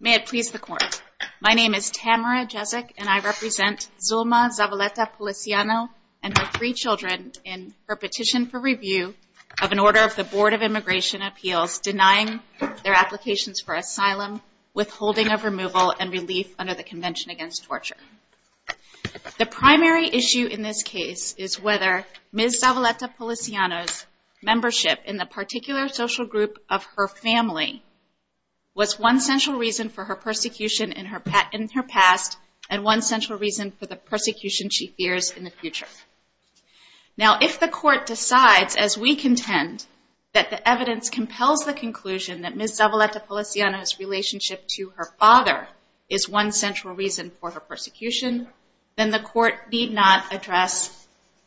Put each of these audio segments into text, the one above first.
May it please the Court. My name is Tamara Jezek and I represent Zulma Zavaleta-Policiano and her three children in her petition for review of an order of the Board of Immigration Appeals denying their applications for asylum, withholding of removal, and relief under the Convention Against Torture. The primary issue in this case is whether Ms. Zavaleta-Policiano's was one central reason for her persecution in her past and one central reason for the persecution she fears in the future. Now, if the Court decides, as we contend, that the evidence compels the conclusion that Ms. Zavaleta-Policiano's relationship to her father is one central reason for her persecution, then the Court need not address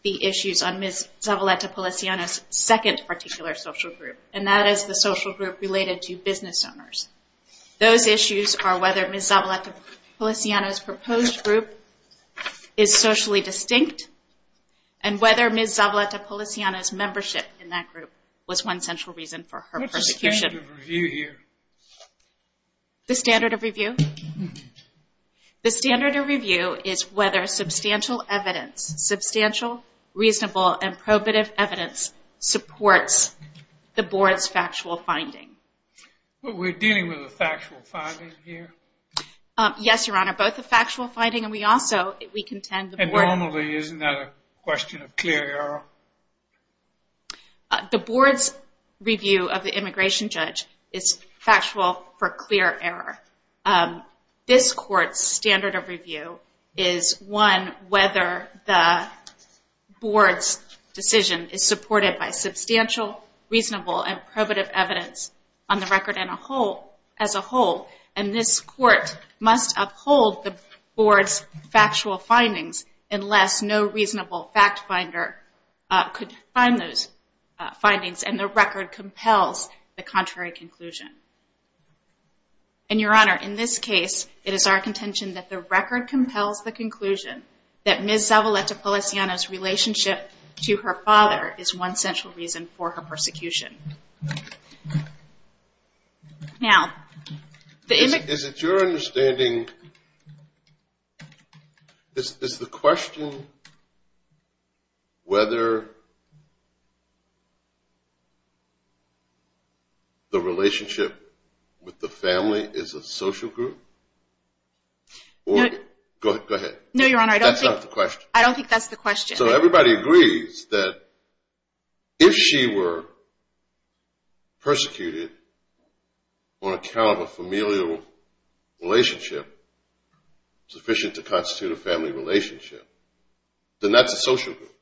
the issues on Ms. Zavaleta-Policiano's second particular social group, and that is the social group related to business owners. Those issues are whether Ms. Zavaleta-Policiano's proposed group is socially distinct and whether Ms. Zavaleta-Policiano's membership in that group was one central reason for her persecution. What's the standard of review here? The standard of review? The standard of review is whether substantial evidence, substantial, reasonable, and probative evidence supports the Board's factual finding. But we're dealing with a factual finding here? Yes, Your Honor, both a factual finding and we also, we contend the Board... And normally isn't that a question of clear error? The Board's review of the immigration judge is factual for clear error. This Court's standard of review is one whether the Board's decision is supported by substantial, reasonable, and probative evidence on the record as a whole, and this Court must uphold the Board's factual findings unless no reasonable fact finder could find those findings, and the record compels the contrary conclusion. And Your Honor, in this case, it is our contention that the record compels the conclusion that Ms. Zavaleta-Policiano's relationship to her father is one central reason for her persecution. Is it your understanding, is the question whether the relationship with the family is a social group? Go ahead. No, Your Honor, I don't think that's the question. So everybody agrees that if she were persecuted on account of a familial relationship sufficient to constitute a family relationship, then that's a social group?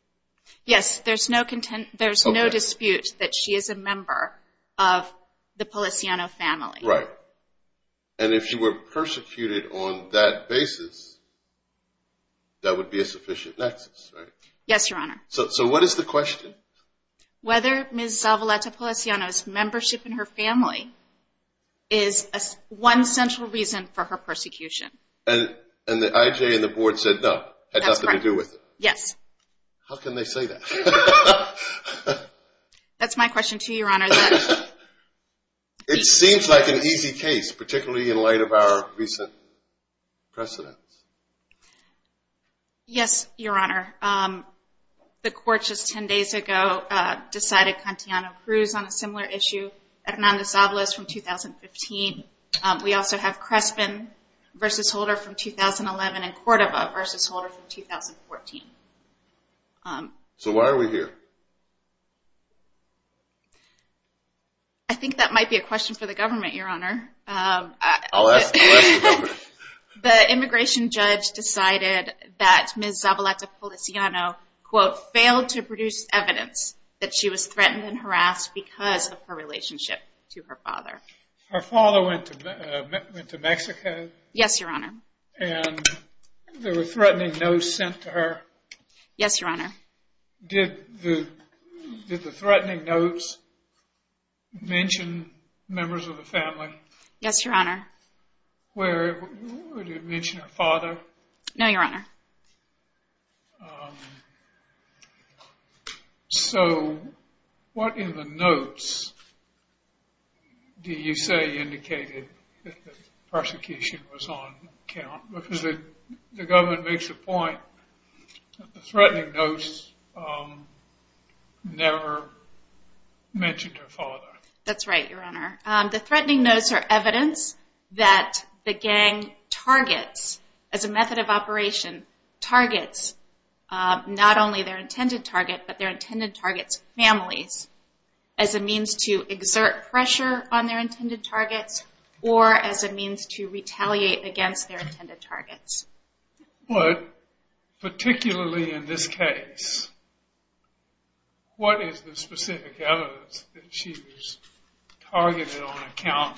Yes, there's no dispute that she is a member of the Policiano family. Right. And if she were persecuted on that basis, that would be a sufficient nexus, right? Yes, Your Honor. So what is the question? Whether Ms. Zavaleta-Policiano's membership in her family is one central reason for her persecution. And the IJ and the Board said no, had nothing to do with it? Yes. How can they say that? That's my question to you, Your Honor. It seems like an easy case, particularly in light of our recent precedents. Yes, Your Honor. The court just 10 days ago decided Contiano Cruz on a similar issue. Hernando Zavalas from 2015. We also have Crespin v. Holder from 2011 and Cordova v. Holder from 2014. So why are we here? I think that might be a question for the government, Your Honor. I'll ask the government. The immigration judge decided that Ms. Zavaleta-Policiano, quote, failed to produce evidence that she was threatened and harassed because of her relationship to her father. Her father went to Mexico? Yes, Your Honor. And there were threatening notes sent to her? Yes, Your Honor. Did the threatening notes mention members of the family? Yes, Your Honor. Did it mention her father? No, Your Honor. So what in the notes do you say indicated that the persecution was on count? Because the government makes the point that the threatening notes never mentioned her father. That's right, Your Honor. The threatening notes are evidence that the gang targets, as a method of operation, targets not only their intended target, but their intended target's families, as a means to exert pressure on their intended targets or as a means to retaliate against their intended targets. But particularly in this case, what is the specific evidence that she was targeted on account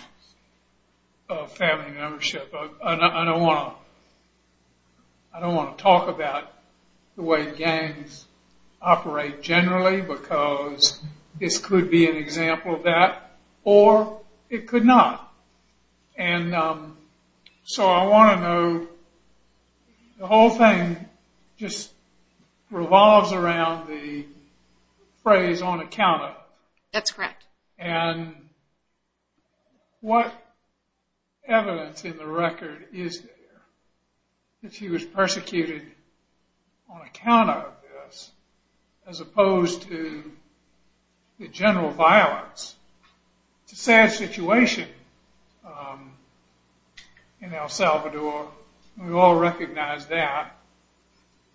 of family membership? I don't want to talk about the way gangs operate generally because this could be an example of that, or it could not. And so I want to know, the whole thing just revolves around the phrase, on account of. That's correct. And what evidence in the record is there that she was persecuted on account of this as opposed to the general violence? It's a sad situation in El Salvador. We all recognize that.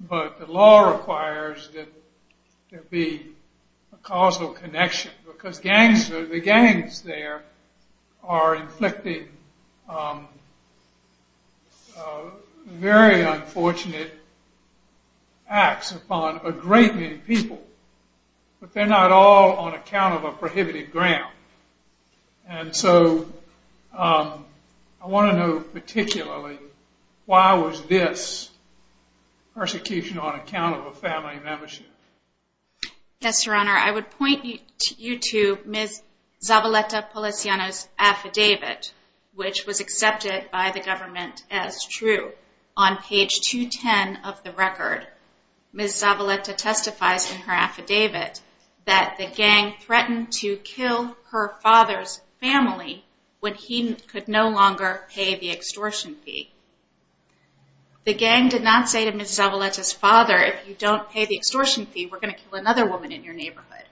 But the law requires that there be a causal connection because the gangs there are inflicting very unfortunate acts upon a great many people. But they're not all on account of a prohibited ground. And so I want to know particularly, why was this persecution on account of a family membership? Yes, Your Honor. I would point you to Ms. Zavaleta Polisiano's affidavit, which was accepted by the government as true. On page 210 of the record, Ms. Zavaleta testifies in her affidavit that the gang threatened to kill her father's family when he could no longer pay the extortion fee. The gang did not say to Ms. Zavaleta's father, if you don't pay the extortion fee, we're going to kill another woman in your neighborhood.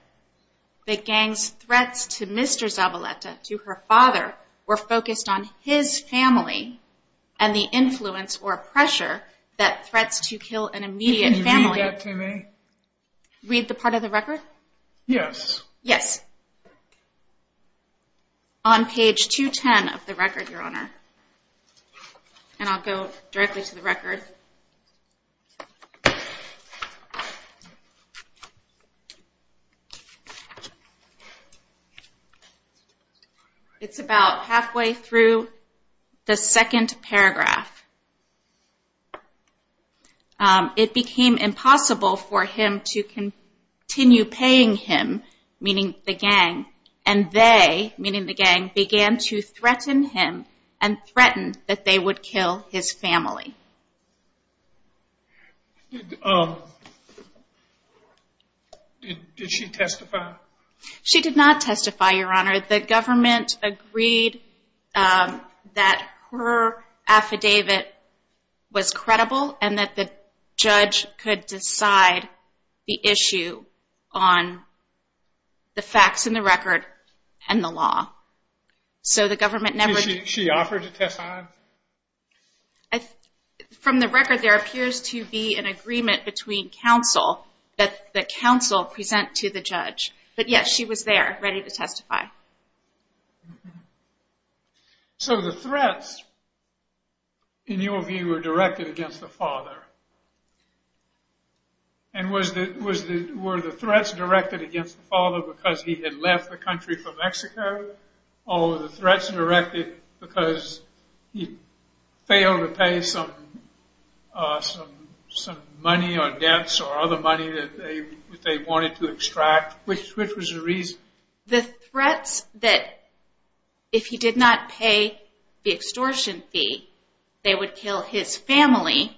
The gang's threats to Mr. Zavaleta, to her father, were focused on his family and the influence or pressure that threats to kill an immediate family... Can you read that to me? Read the part of the record? Yes. Yes. On page 210 of the record, Your Honor. And I'll go directly to the record. It's about halfway through the second paragraph. It became impossible for him to continue paying him, meaning the gang, and they, meaning the gang, began to threaten him and threatened that they would kill his family. Did she testify? She did not testify, Your Honor. The government agreed that her affidavit was credible and that the judge could decide the issue on the facts in the record and the law. So the government never... She offered to testify? From the record, there appears to be an agreement between counsel that the counsel present to the judge. But yes, she was there, ready to testify. So the threats, in your view, were directed against the father. And were the threats directed against the father because he had left the country for Mexico? Or were the threats directed because he failed to pay some money or debts or other money that they wanted to extract? Which was the reason? The threats that if he did not pay the extortion fee, they would kill his family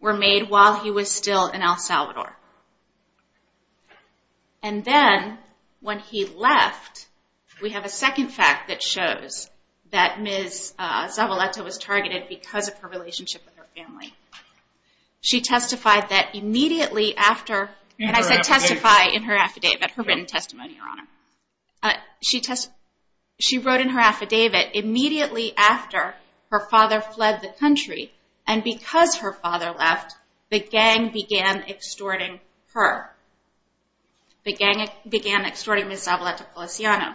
were made while he was still in El Salvador. And then, when he left, we have a second fact that shows that Ms. Zavaleta was targeted because of her relationship with her family. She testified that immediately after... In her affidavit. And I said testify in her affidavit, her written testimony, Your Honor. She wrote in her affidavit immediately after her father fled the country. And because her father left, the gang began extorting her. The gang began extorting Ms. Zavaleta Policiano.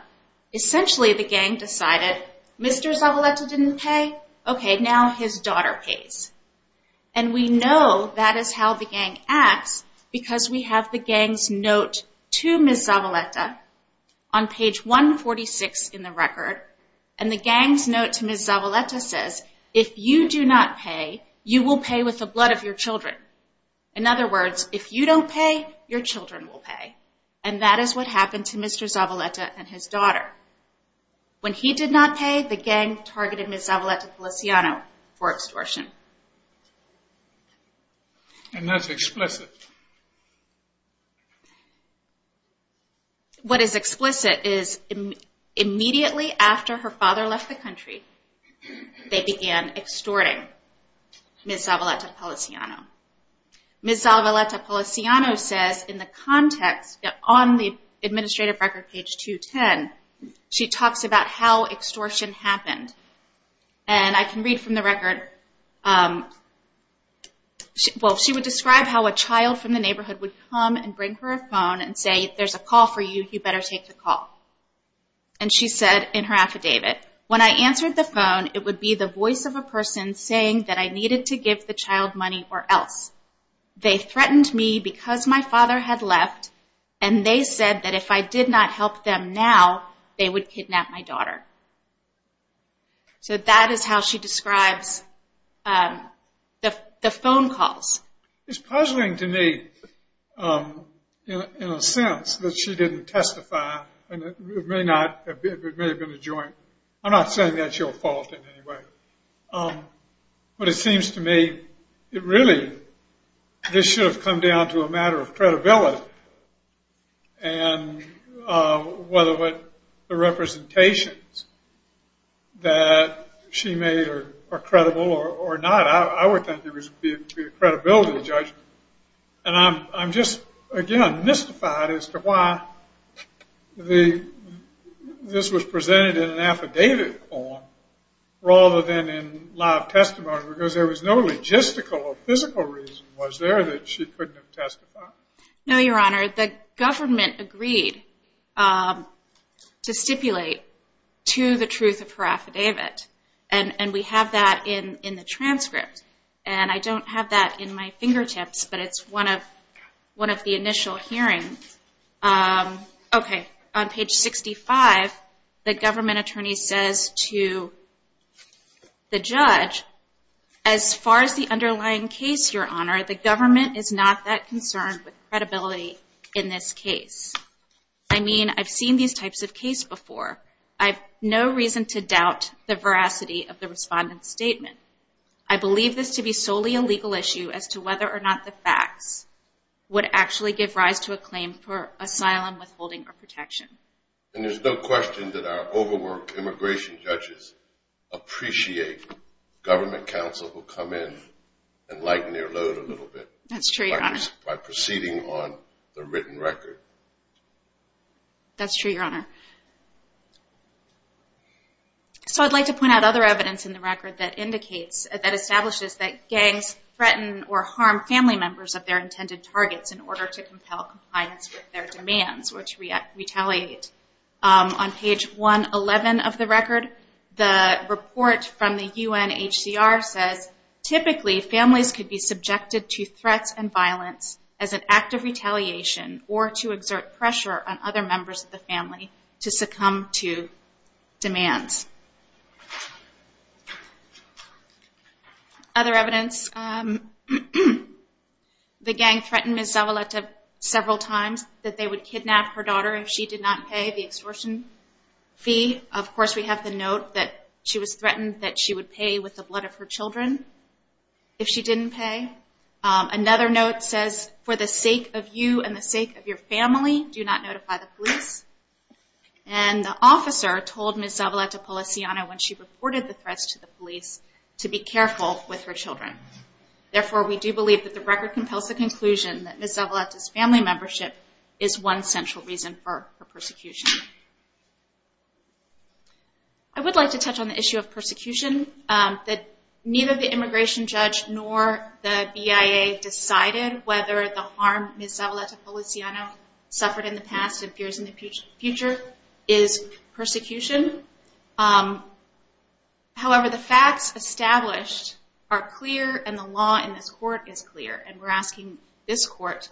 Essentially, the gang decided, Mr. Zavaleta didn't pay. Okay, now his daughter pays. And we know that is how the gang acts because we have the gang's note to Ms. Zavaleta on page 146 in the record. And the gang's note to Ms. Zavaleta says, If you do not pay, you will pay with the blood of your children. In other words, if you don't pay, your children will pay. And that is what happened to Mr. Zavaleta and his daughter. When he did not pay, the gang targeted Ms. Zavaleta Policiano for extortion. And that's explicit. What is explicit is immediately after her father left the country, they began extorting Ms. Zavaleta Policiano. Ms. Zavaleta Policiano says in the context on the administrative record page 210, she talks about how extortion happened. And I can read from the record. Well, she would describe how a child from the neighborhood would come and bring her a phone and say, If there's a call for you, you better take the call. And she said in her affidavit, When I answered the phone, it would be the voice of a person saying that I needed to give the child money or else. They threatened me because my father had left, and they said that if I did not help them now, they would kidnap my daughter. So that is how she describes the phone calls. It's puzzling to me in a sense that she didn't testify, and it may have been a joint. I'm not saying that's your fault in any way. But it seems to me it really, this should have come down to a matter of credibility and whether the representations that she made are credible or not. I would think it would be a credibility judgment. And I'm just, again, mystified as to why this was presented in an affidavit form rather than in live testimony because there was no logistical or physical reason, was there, that she couldn't have testified? No, Your Honor. The government agreed to stipulate to the truth of her affidavit, and we have that in the transcript. And I don't have that in my fingertips, but it's one of the initial hearings. Okay. On page 65, the government attorney says to the judge, as far as the underlying case, Your Honor, the government is not that concerned with credibility in this case. I mean, I've seen these types of cases before. I have no reason to doubt the veracity of the respondent's statement. I believe this to be solely a legal issue as to whether or not the facts would actually give rise to a claim for asylum withholding or protection. And there's no question that our overworked immigration judges appreciate government counsel who come in and lighten their load a little bit. That's true, Your Honor. By proceeding on the written record. That's true, Your Honor. So I'd like to point out other evidence in the record that indicates, that establishes that gangs threaten or harm family members of their intended targets in order to compel compliance with their demands or to retaliate. On page 111 of the record, the report from the UNHCR says, typically families could be subjected to threats and violence as an act of retaliation or to exert pressure on other members of the family to succumb to Other evidence. The gang threatened Ms. Zavaleta several times that they would kidnap her daughter if she did not pay the extortion fee. Of course, we have the note that she was threatened that she would pay with the blood of her children if she didn't pay. Another note says, for the sake of you and the sake of your family, do not notify the police. And the officer told Ms. Zavaleta Policiano when she reported the threats to the police to be careful with her children. Therefore, we do believe that the record compels the conclusion that Ms. Zavaleta's family membership is one central reason for her persecution. I would like to touch on the issue of persecution, that neither the immigration judge nor the BIA decided whether the harm Ms. Zavaleta Policiano suffered in the past and fears in the future is persecution. However, the facts established are clear and the law in this court is clear. And we're asking this court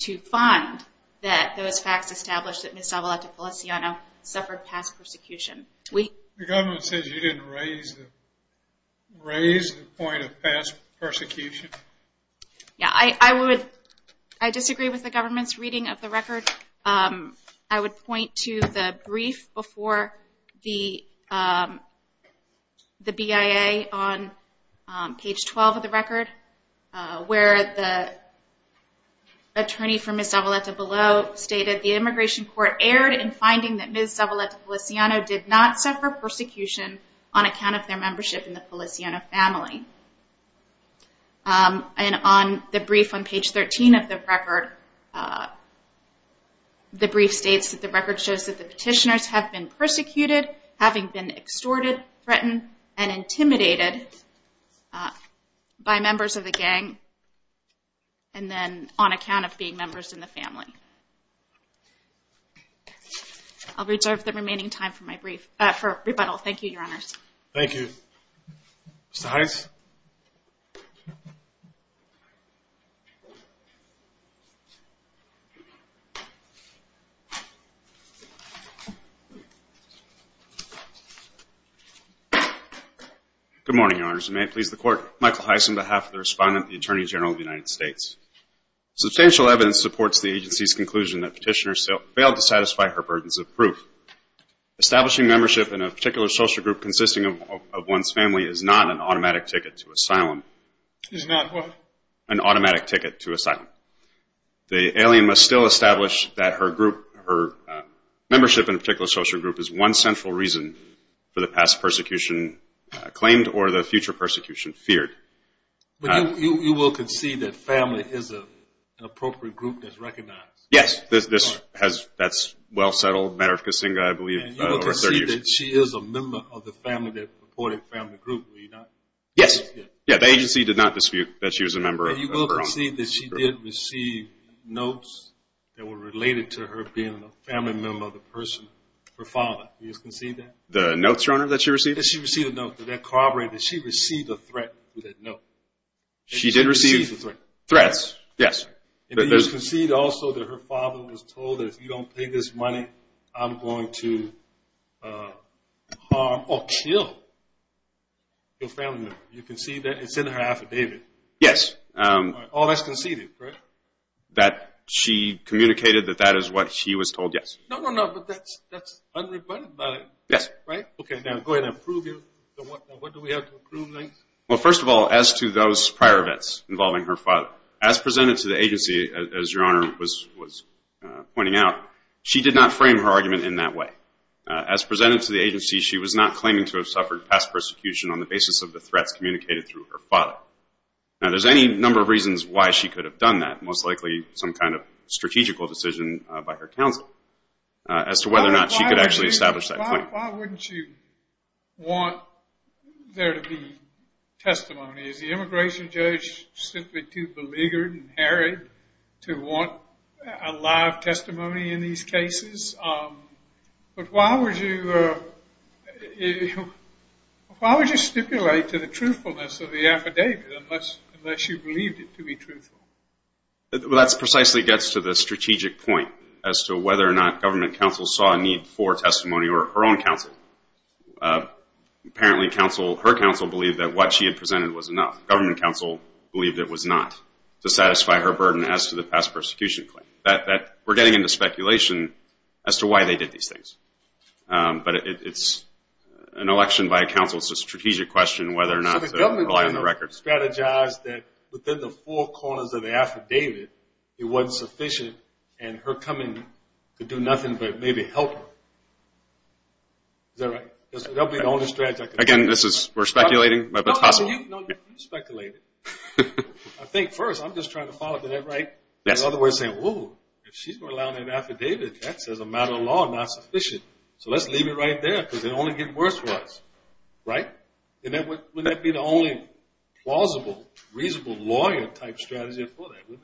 to find that those facts established that Ms. Zavaleta Policiano suffered past persecution. The government says you didn't raise the point of past persecution. Yeah, I disagree with the government's reading of the record. I would point to the brief before the BIA on page 12 of the record where the attorney for Ms. Zavaleta below stated the immigration court erred in finding that Ms. Zavaleta Policiano did not suffer persecution on account of their membership in the Policiano family. And on the brief on page 13 of the record, the brief states that the record shows that the petitioners have been persecuted, having been extorted, threatened, and intimidated by members of the gang and then on account of being members in the family. I'll reserve the remaining time for my brief, for rebuttal. Thank you, Your Honors. Thank you. Mr. Heiss? Good morning, Your Honors. And may it please the Court, Michael Heiss on behalf of the Respondent and the Attorney General of the United States. Substantial evidence supports the agency's conclusion that petitioners failed to satisfy her burdens of proof. Establishing membership in a particular social group consisting of one's family is not an automatic ticket to asylum. Is not what? An automatic ticket to asylum. The alien must still establish that her group, her membership in a particular social group is one central reason for the past persecution claimed or the future persecution feared. But you will concede that family is an appropriate group that's recognized? Yes. That's well settled. I believe over 30 years. And you will concede that she is a member of the family that reported family group, were you not? Yes. Yeah, the agency did not dispute that she was a member. You will concede that she did receive notes that were related to her being a family member of the person, her father. Do you concede that? The notes, Your Honor, that she received? Did she receive a note? Did that corroborate? Did she receive a threat with that note? She did receive threats, yes. And you concede also that her father was told that if you don't pay this money, I'm going to harm or kill your family member. You concede that? It's in her affidavit. Yes. All that's conceded, correct? That she communicated that that is what she was told, yes. No, no, no, but that's unrebuttable. Yes. Right? Okay, now go ahead and prove it. What do we have to prove? Well, first of all, as to those prior events involving her father, as presented to the agency, as Your Honor was pointing out, she did not frame her argument in that way. As presented to the agency, she was not claiming to have suffered past persecution on the basis of the threats communicated through her father. Now, there's any number of reasons why she could have done that, most likely some kind of strategical decision by her counsel, as to whether or not she could actually establish that claim. Why wouldn't you want there to be testimony? Is the immigration judge simply too beleaguered and harried to want a live testimony in these cases? But why would you stipulate to the truthfulness of the affidavit unless you believed it to be truthful? Well, that precisely gets to the strategic point, as to whether or not government counsel saw a need for testimony or her own counsel. Apparently her counsel believed that what she had presented was enough. Government counsel believed it was not, to satisfy her burden as to the past persecution claim. We're getting into speculation as to why they did these things. But it's an election by a counsel, it's a strategic question whether or not to rely on the record. So the government strategized that within the four corners of the affidavit, it wasn't sufficient, and her coming could do nothing but maybe help her. Is that right? That would be the only strategy. Again, we're speculating, but it's possible. No, you speculate it. I think first, I'm just trying to follow up. Is that right? Yes. In other words, saying, whoa, if she's going to allow an affidavit, that says a matter of law, not sufficient. So let's leave it right there because it will only get worse for us. Right? Wouldn't that be the only plausible, reasonable lawyer-type strategy for that?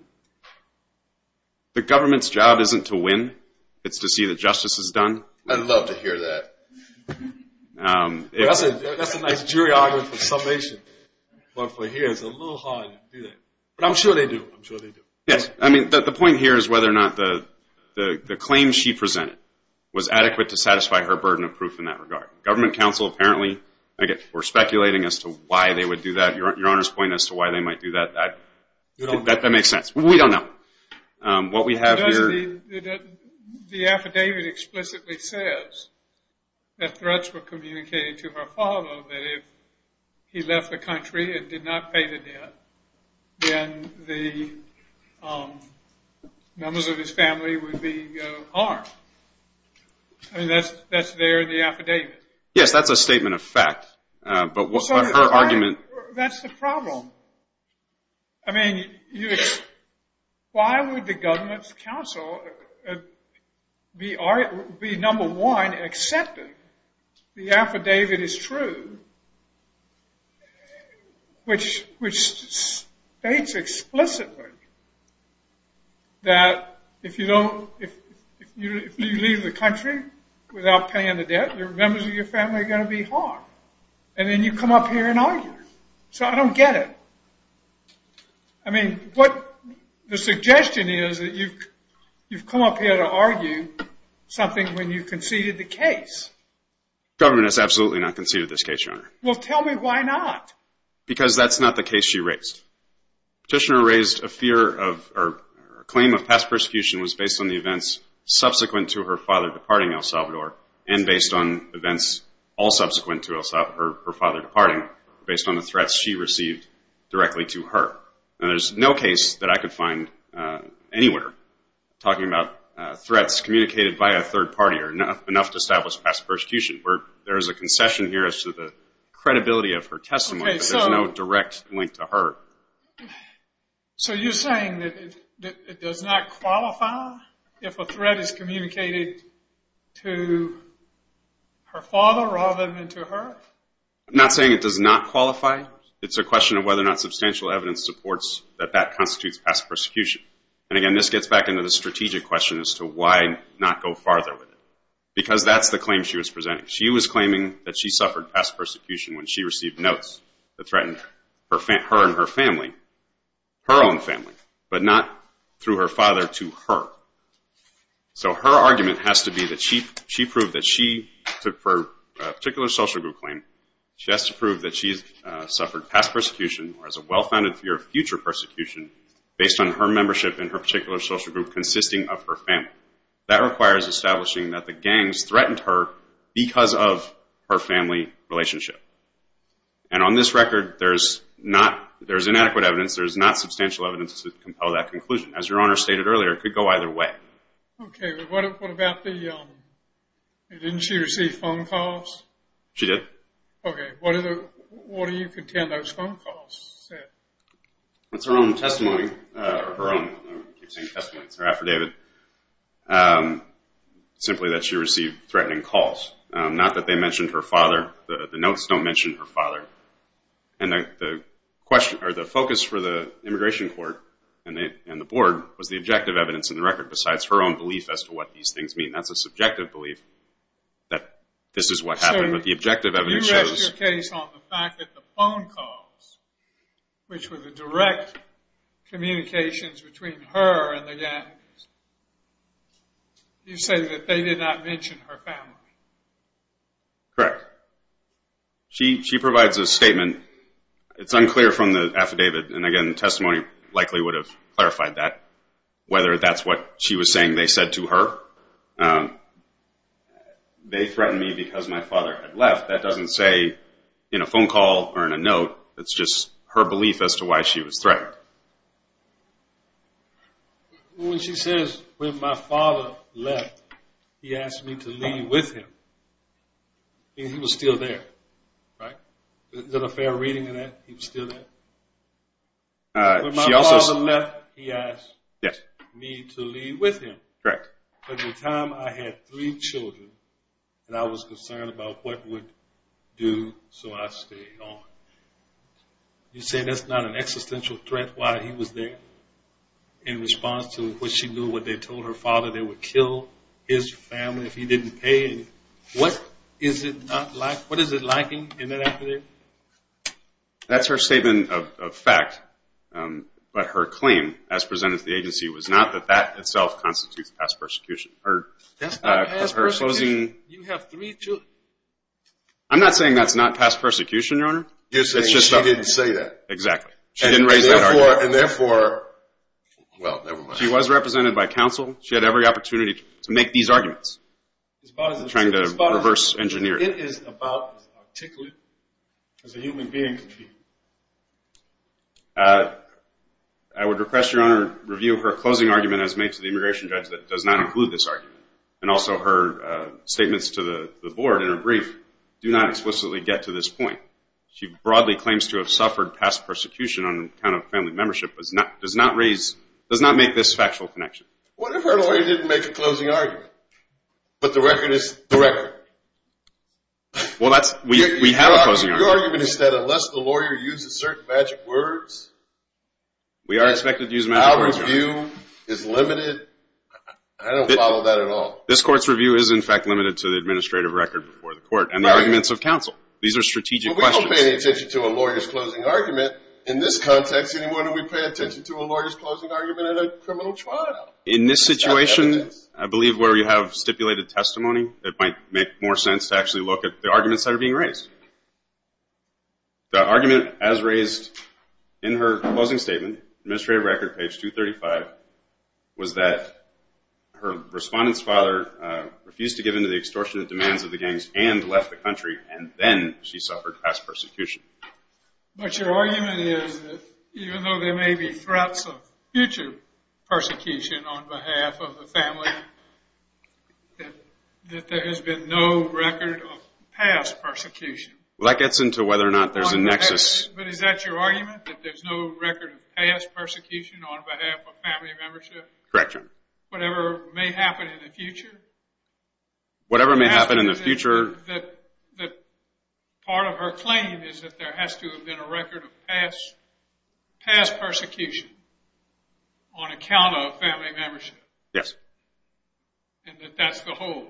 The government's job isn't to win. It's to see that justice is done. I'd love to hear that. That's a nice jury argument for summation. But for here, it's a little hard to do that. But I'm sure they do. I'm sure they do. Yes. I mean, the point here is whether or not the claim she presented was adequate to satisfy her burden of proof in that regard. Government counsel apparently were speculating as to why they would do that. Your Honor's point as to why they might do that, that makes sense. We don't know. What we have here. The affidavit explicitly says that threats were communicated to her father that if he left the country and did not pay the debt, then the numbers of his family would be harmed. I mean, that's there in the affidavit. Yes, that's a statement of fact. But her argument. That's the problem. I mean, why would the government counsel be number one accepting the affidavit is true, which states explicitly that if you leave the country without paying the debt, the numbers of your family are going to be harmed. And then you come up here and argue. So I don't get it. I mean, the suggestion is that you've come up here to argue something when you conceded the case. The government has absolutely not conceded this case, Your Honor. Well, tell me why not. Because that's not the case she raised. Petitioner raised a claim of past persecution was based on the events subsequent to her father departing El Salvador and based on events all subsequent to her father departing based on the threats she received directly to her. And there's no case that I could find anywhere talking about threats communicated by a third party or enough to establish past persecution. There is a concession here as to the credibility of her testimony, but there's no direct link to her. So you're saying that it does not qualify if a threat is communicated to her father rather than to her? I'm not saying it does not qualify. It's a question of whether or not substantial evidence supports that that constitutes past persecution. And, again, this gets back into the strategic question as to why not go farther with it. Because that's the claim she was presenting. She was claiming that she suffered past persecution when she received notes that threatened her and her family, her own family, but not through her father to her. So her argument has to be that she proved that she took her particular social group claim. She has to prove that she's suffered past persecution or has a well-founded fear of future persecution based on her membership in her particular social group consisting of her family. That requires establishing that the gangs threatened her because of her family relationship. And on this record, there's inadequate evidence. There's not substantial evidence to compel that conclusion. As Your Honor stated earlier, it could go either way. Okay. What about the didn't she receive phone calls? She did. Okay. What do you contend those phone calls said? It's her own testimony, her own. I keep saying testimony. It's her affidavit. Simply that she received threatening calls. Not that they mentioned her father. The notes don't mention her father. And the focus for the immigration court and the board was the objective evidence in the record besides her own belief as to what these things mean. That's a subjective belief that this is what happened. But the objective evidence shows. So you rest your case on the fact that the phone calls, which were the direct communications between her and the gangs, you say that they did not mention her family. Correct. She provides a statement. It's unclear from the affidavit. And, again, the testimony likely would have clarified that, whether that's what she was saying they said to her. They threatened me because my father had left. That doesn't say in a phone call or in a note. That's just her belief as to why she was threatened. When she says, When my father left, he asked me to leave with him. He was still there. Right? Is there a fair reading of that? He was still there? When my father left, he asked me to leave with him. Correct. At the time, I had three children, and I was concerned about what would do so I stayed on. You say that's not an existential threat, why he was there, in response to what she knew, what they told her father, they would kill his family if he didn't pay. What is it like? What is it like in that affidavit? That's her statement of fact. But her claim, as presented to the agency, was not that that itself constitutes past persecution. That's not past persecution. You have three children. I'm not saying that's not past persecution, Your Honor. You're saying she didn't say that. Exactly. She didn't raise that argument. And therefore, well, never mind. She was represented by counsel. She had every opportunity to make these arguments, trying to reverse engineer it. But it is about as articulate as a human being can be. I would request, Your Honor, review her closing argument as made to the immigration judge that does not include this argument, and also her statements to the board in her brief do not explicitly get to this point. She broadly claims to have suffered past persecution on account of family membership, but does not make this factual connection. What if her lawyer didn't make a closing argument, but the record is the record? Well, we have a closing argument. Your argument is that unless the lawyer uses certain magic words... We are expected to use magic words, Your Honor. ...that our view is limited. I don't follow that at all. This court's review is, in fact, limited to the administrative record before the court and the arguments of counsel. These are strategic questions. Well, we don't pay any attention to a lawyer's closing argument. In this context, anymore do we pay attention to a lawyer's closing argument in a criminal trial. In this situation, I believe where you have stipulated testimony, it might make more sense to actually look at the arguments that are being raised. The argument as raised in her closing statement, administrative record, page 235, was that her respondent's father refused to give in to the extortionate demands of the gangs and left the country, and then she suffered past persecution. But your argument is that even though there may be threats of future persecution on behalf of the family, that there has been no record of past persecution. Well, that gets into whether or not there's a nexus. But is that your argument, that there's no record of past persecution on behalf of family membership? Correct, Your Honor. Whatever may happen in the future? Whatever may happen in the future. That part of her claim is that there has to have been a record of past persecution on account of family membership. Yes. And that that's the whole.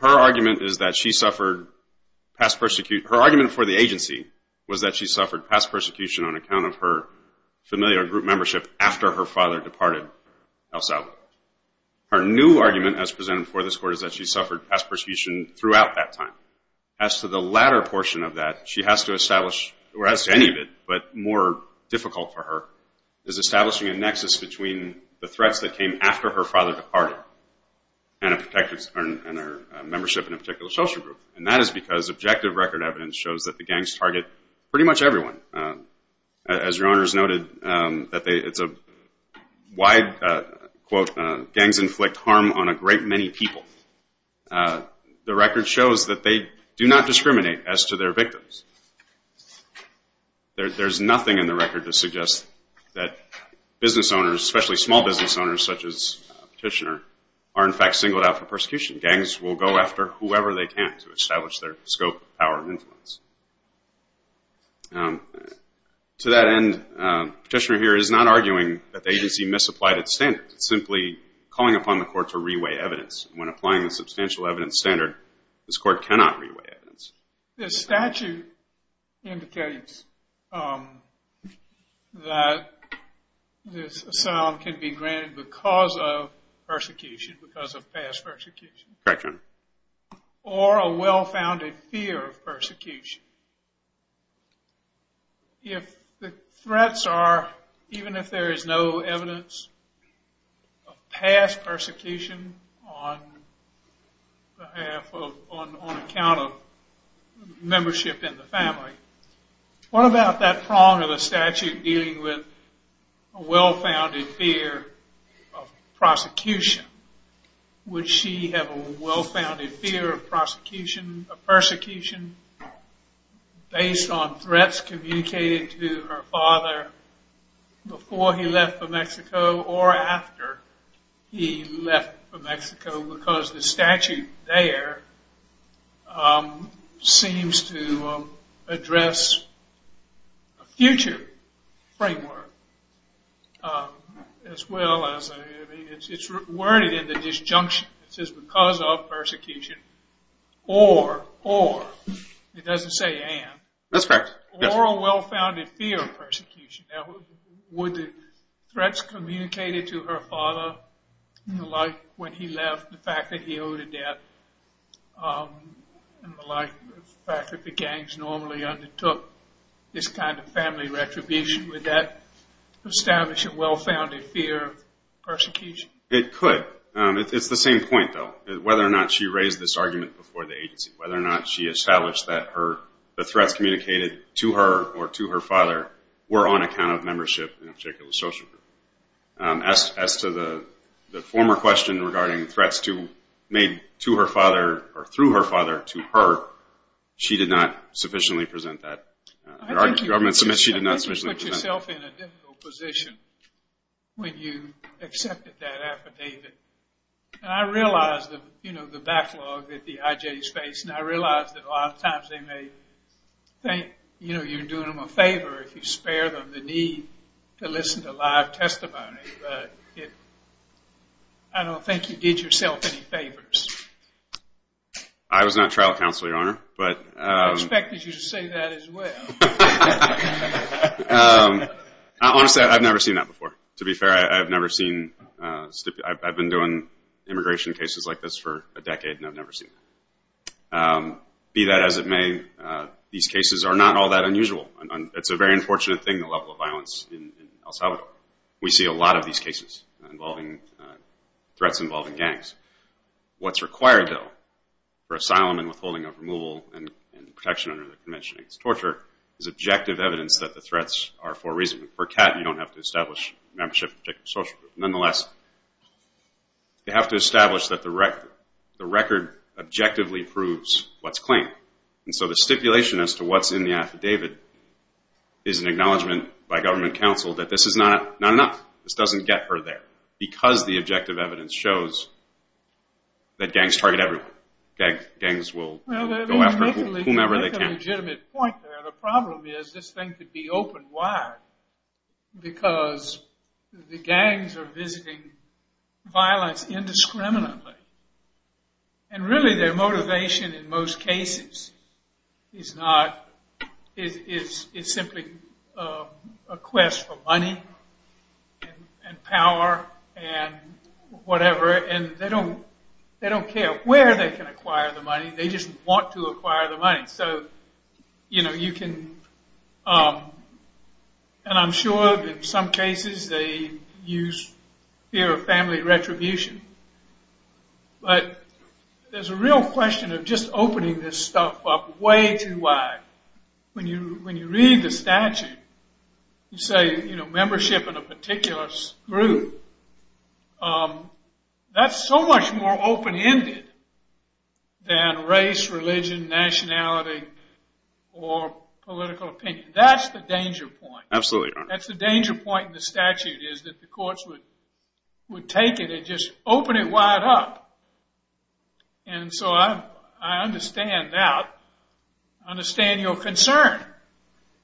Her argument is that she suffered past persecution. Her argument before the agency was that she suffered past persecution on account of her familiar group membership after her father departed El Salvador. Her new argument as presented before this Court is that she suffered past persecution throughout that time. As to the latter portion of that, she has to establish, or has to any of it, but more difficult for her, is establishing a nexus between the threats that came after her father departed and her membership in a particular social group. And that is because objective record evidence shows that the gangs target pretty much everyone. As Your Honor has noted, it's a wide, quote, gangs inflict harm on a great many people. The record shows that they do not discriminate as to their victims. There's nothing in the record to suggest that business owners, especially small business owners such as Petitioner, are in fact singled out for persecution. Gangs will go after whoever they can to establish their scope, power, and influence. To that end, Petitioner here is not arguing that the agency misapplied its standards. It's simply calling upon the Court to reweigh evidence. When applying the substantial evidence standard, this Court cannot reweigh evidence. The statute indicates that this asylum can be granted because of persecution, because of past persecution. Correct, Your Honor. Or a well-founded fear of persecution. If the threats are, even if there is no evidence, of past persecution on behalf of, on account of membership in the family, what about that prong of a statute dealing with a well-founded fear of prosecution? Would she have a well-founded fear of prosecution, of persecution, based on threats communicated to her father before he left for Mexico, or after he left for Mexico, because the statute there seems to address a future framework, as well as, it's worded in the disjunction, it says because of persecution, or, or, it doesn't say and. That's correct. Or a well-founded fear of persecution. Would the threats communicated to her father, like when he left, the fact that he owed a debt, and the fact that the gangs normally undertook this kind of family retribution, would that establish a well-founded fear of persecution? It could. It's the same point, though. Whether or not she raised this argument before the agency, whether or not she established that her, the threats communicated to her, or to her father, were on account of membership in a particular social group. As to the former question regarding threats to, made to her father, or through her father, to her, she did not sufficiently present that argument. I think you put yourself in a difficult position when you accepted that affidavit. And I realize the, you know, the backlog that the IJs face, and I realize that a lot of times they may think, you know, you're doing them a favor if you spare them the need to listen to live testimony. But I don't think you did yourself any favors. I was not trial counsel, Your Honor. I expected you to say that as well. Honestly, I've never seen that before. To be fair, I've never seen, I've been doing immigration cases like this for a decade, and I've never seen that. Be that as it may, these cases are not all that unusual. It's a very unfortunate thing, the level of violence in El Salvador. We see a lot of these cases involving, threats involving gangs. What's required, though, for asylum and withholding of removal and protection under the Convention against Torture is objective evidence that the threats are for a reason. For CAT, you don't have to establish membership in a particular social group. Nonetheless, you have to establish that the record objectively proves what's claimed. And so the stipulation as to what's in the affidavit is an acknowledgment by government counsel that this is not enough. This doesn't get her there, because the objective evidence shows that gangs target everyone. Gangs will go after whomever they can. Well, that's a legitimate point there. The problem is this thing could be open wide because the gangs are visiting violence indiscriminately. And really their motivation in most cases is not... It's simply a quest for money and power and whatever, and they don't care where they can acquire the money. They just want to acquire the money. So, you know, you can... And I'm sure in some cases they use fear of family retribution. But there's a real question of just opening this stuff up way too wide. When you read the statute, you say, you know, membership in a particular group. or political opinion. That's the danger point. That's the danger point in the statute is that the courts would take it and just open it wide up. And so I understand that. I understand your concern.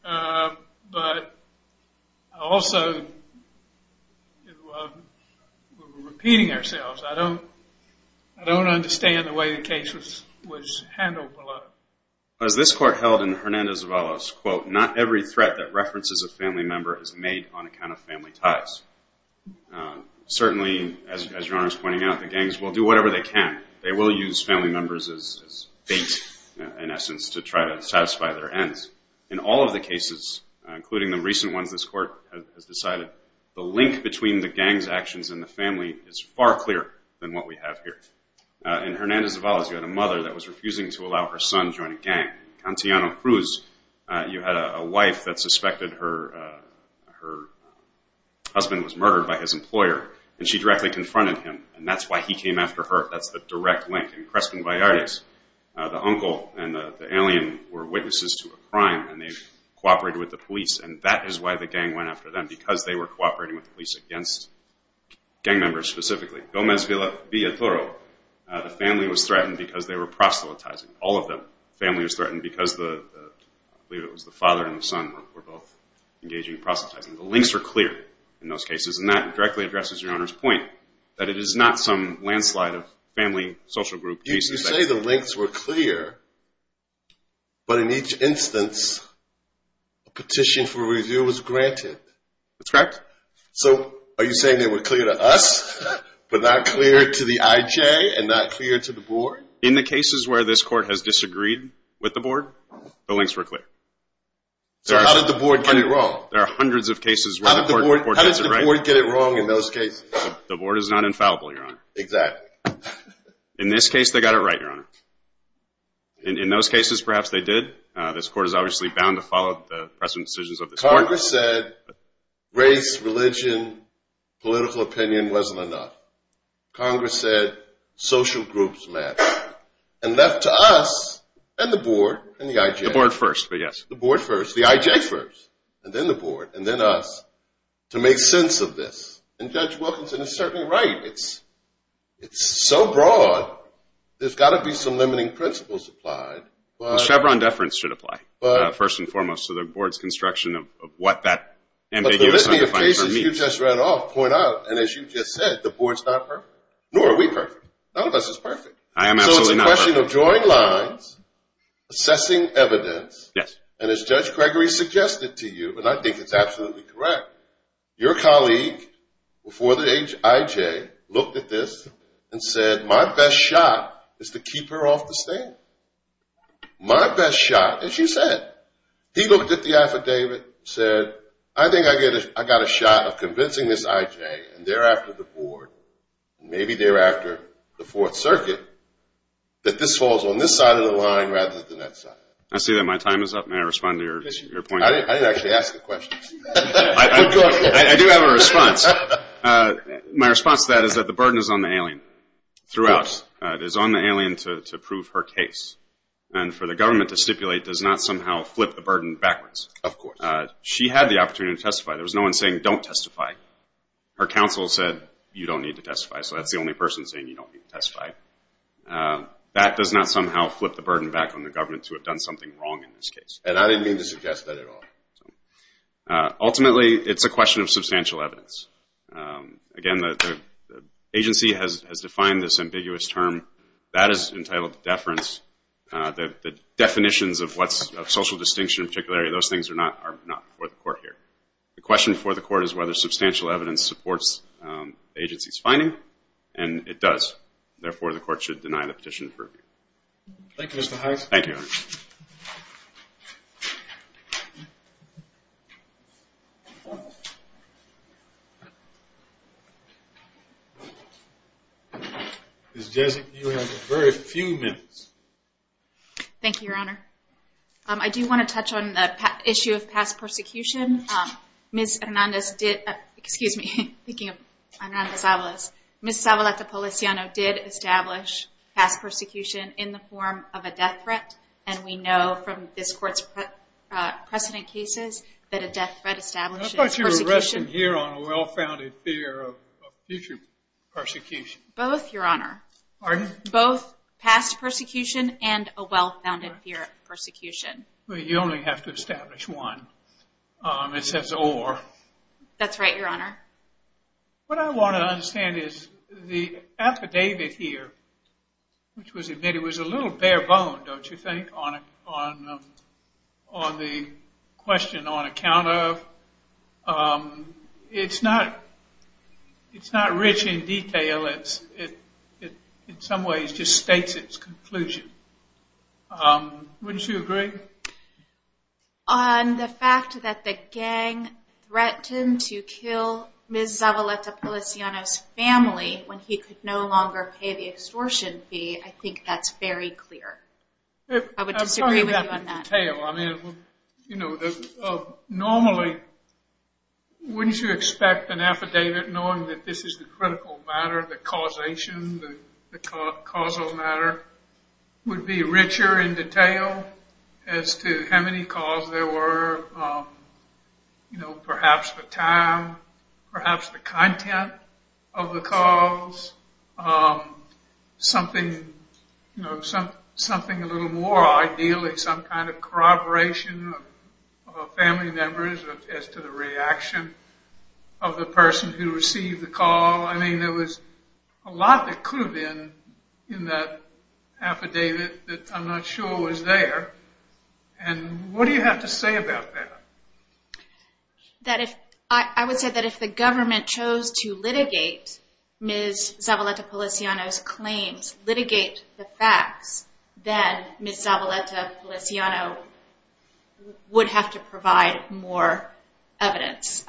But I also... We're repeating ourselves. I don't understand the way the case was handled. As this court held in Hernandez-Valas, quote, not every threat that references a family member is made on account of family ties. Certainly, as Your Honor is pointing out, the gangs will do whatever they can. They will use family members as bait, in essence, to try to satisfy their ends. In all of the cases, including the recent ones this court has decided, the link between the gang's actions and the family is far clearer than what we have here. In Hernandez-Valas, you had a mother that was refusing to allow her son join a gang. In Cantillano Cruz, you had a wife that suspected her husband was murdered by his employer. And she directly confronted him. And that's why he came after her. That's the direct link. In Creston-Vallartes, the uncle and the alien were witnesses to a crime. And they cooperated with the police. And that is why the gang went after them, because they were cooperating with the police against gang members specifically. Gomez Villatoro, the family was threatened because they were proselytizing. All of them. The family was threatened because the father and the son were both engaging in proselytizing. The links are clear in those cases. And that directly addresses Your Honor's point that it is not some landslide of family, social group cases. You say the links were clear, but in each instance, a petition for review was granted. That's correct. So are you saying they were clear to us, but not clear to the IJ, and not clear to the board? In the cases where this court has disagreed with the board, the links were clear. So how did the board get it wrong? There are hundreds of cases where the court gets it right. How did the board get it wrong in those cases? The board is not infallible, Your Honor. Exactly. In this case, they got it right, Your Honor. In those cases, perhaps they did. This court is obviously bound to follow the precedent decisions of this court. Congress said race, religion, political opinion wasn't enough. Congress said social groups matter. And left to us, and the board, and the IJ. The board first, but yes. The board first, the IJ first, and then the board, and then us, to make sense of this. And Judge Wilkinson is certainly right. It's so broad, there's got to be some limiting principles applied. Chevron deference should apply, first and foremost, to the board's construction of what that ambiguous undefined term means. But the listening of cases you just read off point out, and as you just said, the board's not perfect, nor are we perfect. None of us is perfect. I am absolutely not perfect. So it's a question of drawing lines, assessing evidence. Yes. And as Judge Gregory suggested to you, and I think it's absolutely correct, your colleague before the IJ looked at this and said, my best shot is to keep her off the stand. My best shot, as you said, he looked at the affidavit, said, I think I got a shot of convincing this IJ, and thereafter the board, and maybe thereafter the Fourth Circuit, that this falls on this side of the line rather than that side. I see that my time is up. May I respond to your point? I didn't actually ask the question. I do have a response. My response to that is that the burden is on the alien throughout. It is on the alien to prove her case. And for the government to stipulate does not somehow flip the burden backwards. Of course. She had the opportunity to testify. There was no one saying, don't testify. Her counsel said, you don't need to testify. So that's the only person saying you don't need to testify. That does not somehow flip the burden back on the government to have done something wrong in this case. And I didn't mean to suggest that at all. Ultimately, it's a question of substantial evidence. Again, the agency has defined this ambiguous term. That is entitled to deference. The definitions of social distinction in particular, those things are not before the court here. The question before the court is whether substantial evidence supports the agency's finding, and it does. Therefore, the court should deny the petition for review. Thank you, Mr. Hines. Thank you. Ms. Jessup, you have very few minutes. Thank you, Your Honor. I do want to touch on the issue of past persecution. Ms. Hernandez did – excuse me, I'm thinking of Hernandez-Avalos. Ms. Avalos-Policiano did establish past persecution in the form of a death threat, and we know from this court's precedent cases that a death threat establishes persecution. I thought you were resting here on a well-founded fear of future persecution. Both, Your Honor. Pardon? Both past persecution and a well-founded fear of persecution. But you only have to establish one. It says or. That's right, Your Honor. What I want to understand is the affidavit here, which was admitted, was a little bare-boned, don't you think, on the question on account of? It's not rich in detail. It in some ways just states its conclusion. Wouldn't you agree? On the fact that the gang threatened to kill Ms. Avalos-Policiano's family when he could no longer pay the extortion fee, I think that's very clear. I would disagree with you on that. Normally, wouldn't you expect an affidavit knowing that this is the critical matter, the causation, the causal matter, would be richer in detail as to how many calls there were, perhaps the time, perhaps the content of the calls, something a little more ideally, some kind of corroboration of family members as to the reaction of the person who received the call? I mean, there was a lot that could have been in that affidavit that I'm not sure was there. And what do you have to say about that? I would say that if the government chose to litigate Ms. Avalos-Policiano's claims, litigate the facts, then Ms. Avalos-Policiano would have to provide more evidence.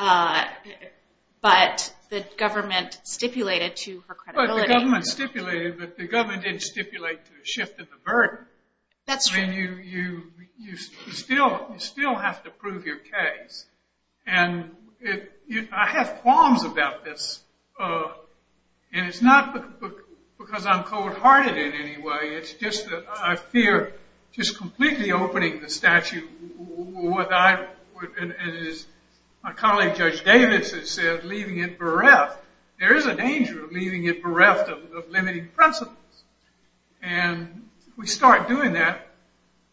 But the government stipulated to her credibility. But the government stipulated, but the government didn't stipulate to the shift in the burden. That's true. I mean, you still have to prove your case. And I have qualms about this. And it's not because I'm cold-hearted in any way. It's just that I fear just completely opening the statute. As my colleague Judge Davis has said, leaving it bereft. There is a danger of leaving it bereft of limiting principles. And if we start doing that,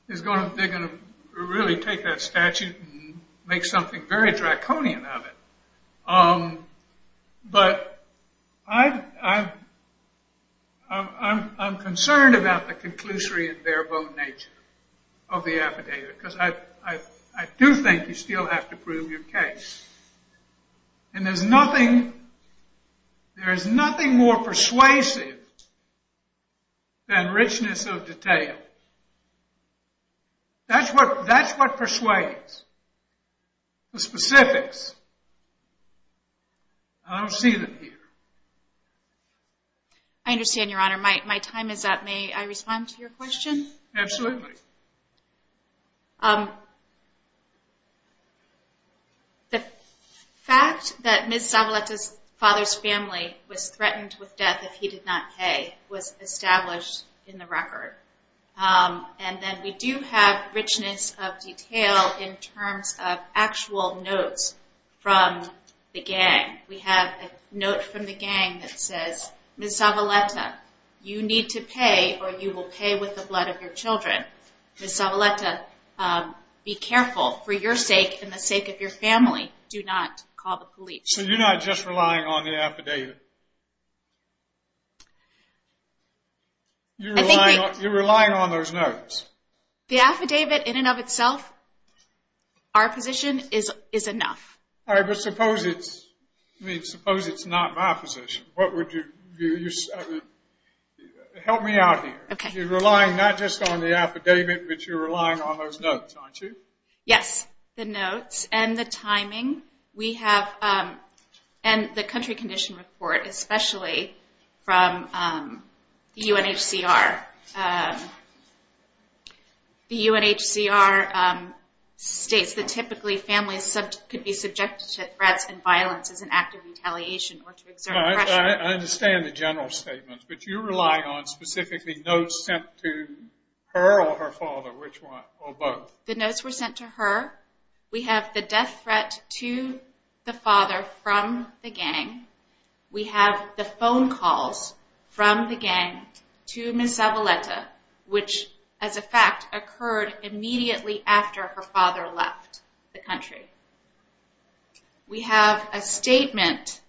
they're going to really take that statute and make something very draconian of it. But I'm concerned about the conclusory and bare-bone nature of the affidavit. Because I do think you still have to prove your case. And there's nothing more persuasive than richness of detail. That's what persuades the specifics. I don't see them here. I understand, Your Honor. My time is up. May I respond to your question? Absolutely. The fact that Ms. Zavaleta's father's family was threatened with death if he did not pay was established in the record. And then we do have richness of detail in terms of actual notes from the gang. We have a note from the gang that says, Ms. Zavaleta, you need to pay or you will pay with the blood of your children. Ms. Zavaleta, be careful. For your sake and the sake of your family, do not call the police. So you're not just relying on the affidavit? You're relying on those notes? The affidavit in and of itself, our position, is enough. All right, but suppose it's not my position. Help me out here. You're relying not just on the affidavit, but you're relying on those notes, aren't you? Yes, the notes and the timing. And the country condition report, especially from the UNHCR. The UNHCR states that typically families could be subjected to threats and violence as an act of retaliation or to exert pressure. I understand the general statement, but you're relying on specifically notes sent to her or her father, or both. The notes were sent to her. We have the death threat to the father from the gang. We have the phone calls from the gang to Ms. Zavaleta, which as a fact occurred immediately after her father left the country. We have a statement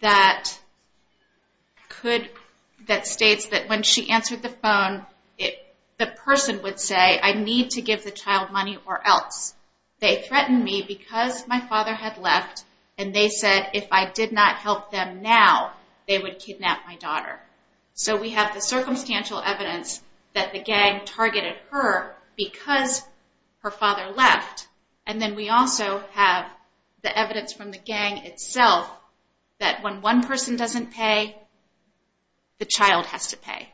that states that when she answered the phone, the person would say, I need to give the child money or else. They threatened me because my father had left, and they said if I did not help them now, they would kidnap my daughter. So we have the circumstantial evidence that the gang targeted her because her father left, and then we also have the evidence from the gang itself that when one person doesn't pay, the child has to pay.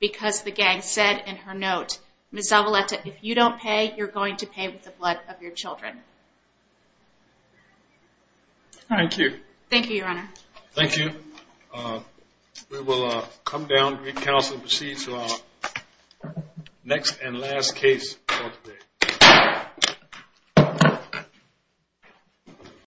Because the gang said in her note, Ms. Zavaleta, if you don't pay, you're going to pay with the blood of your children. Thank you. Thank you, Your Honor. Thank you. We will come down to recounsel and proceed to our next and last case for today.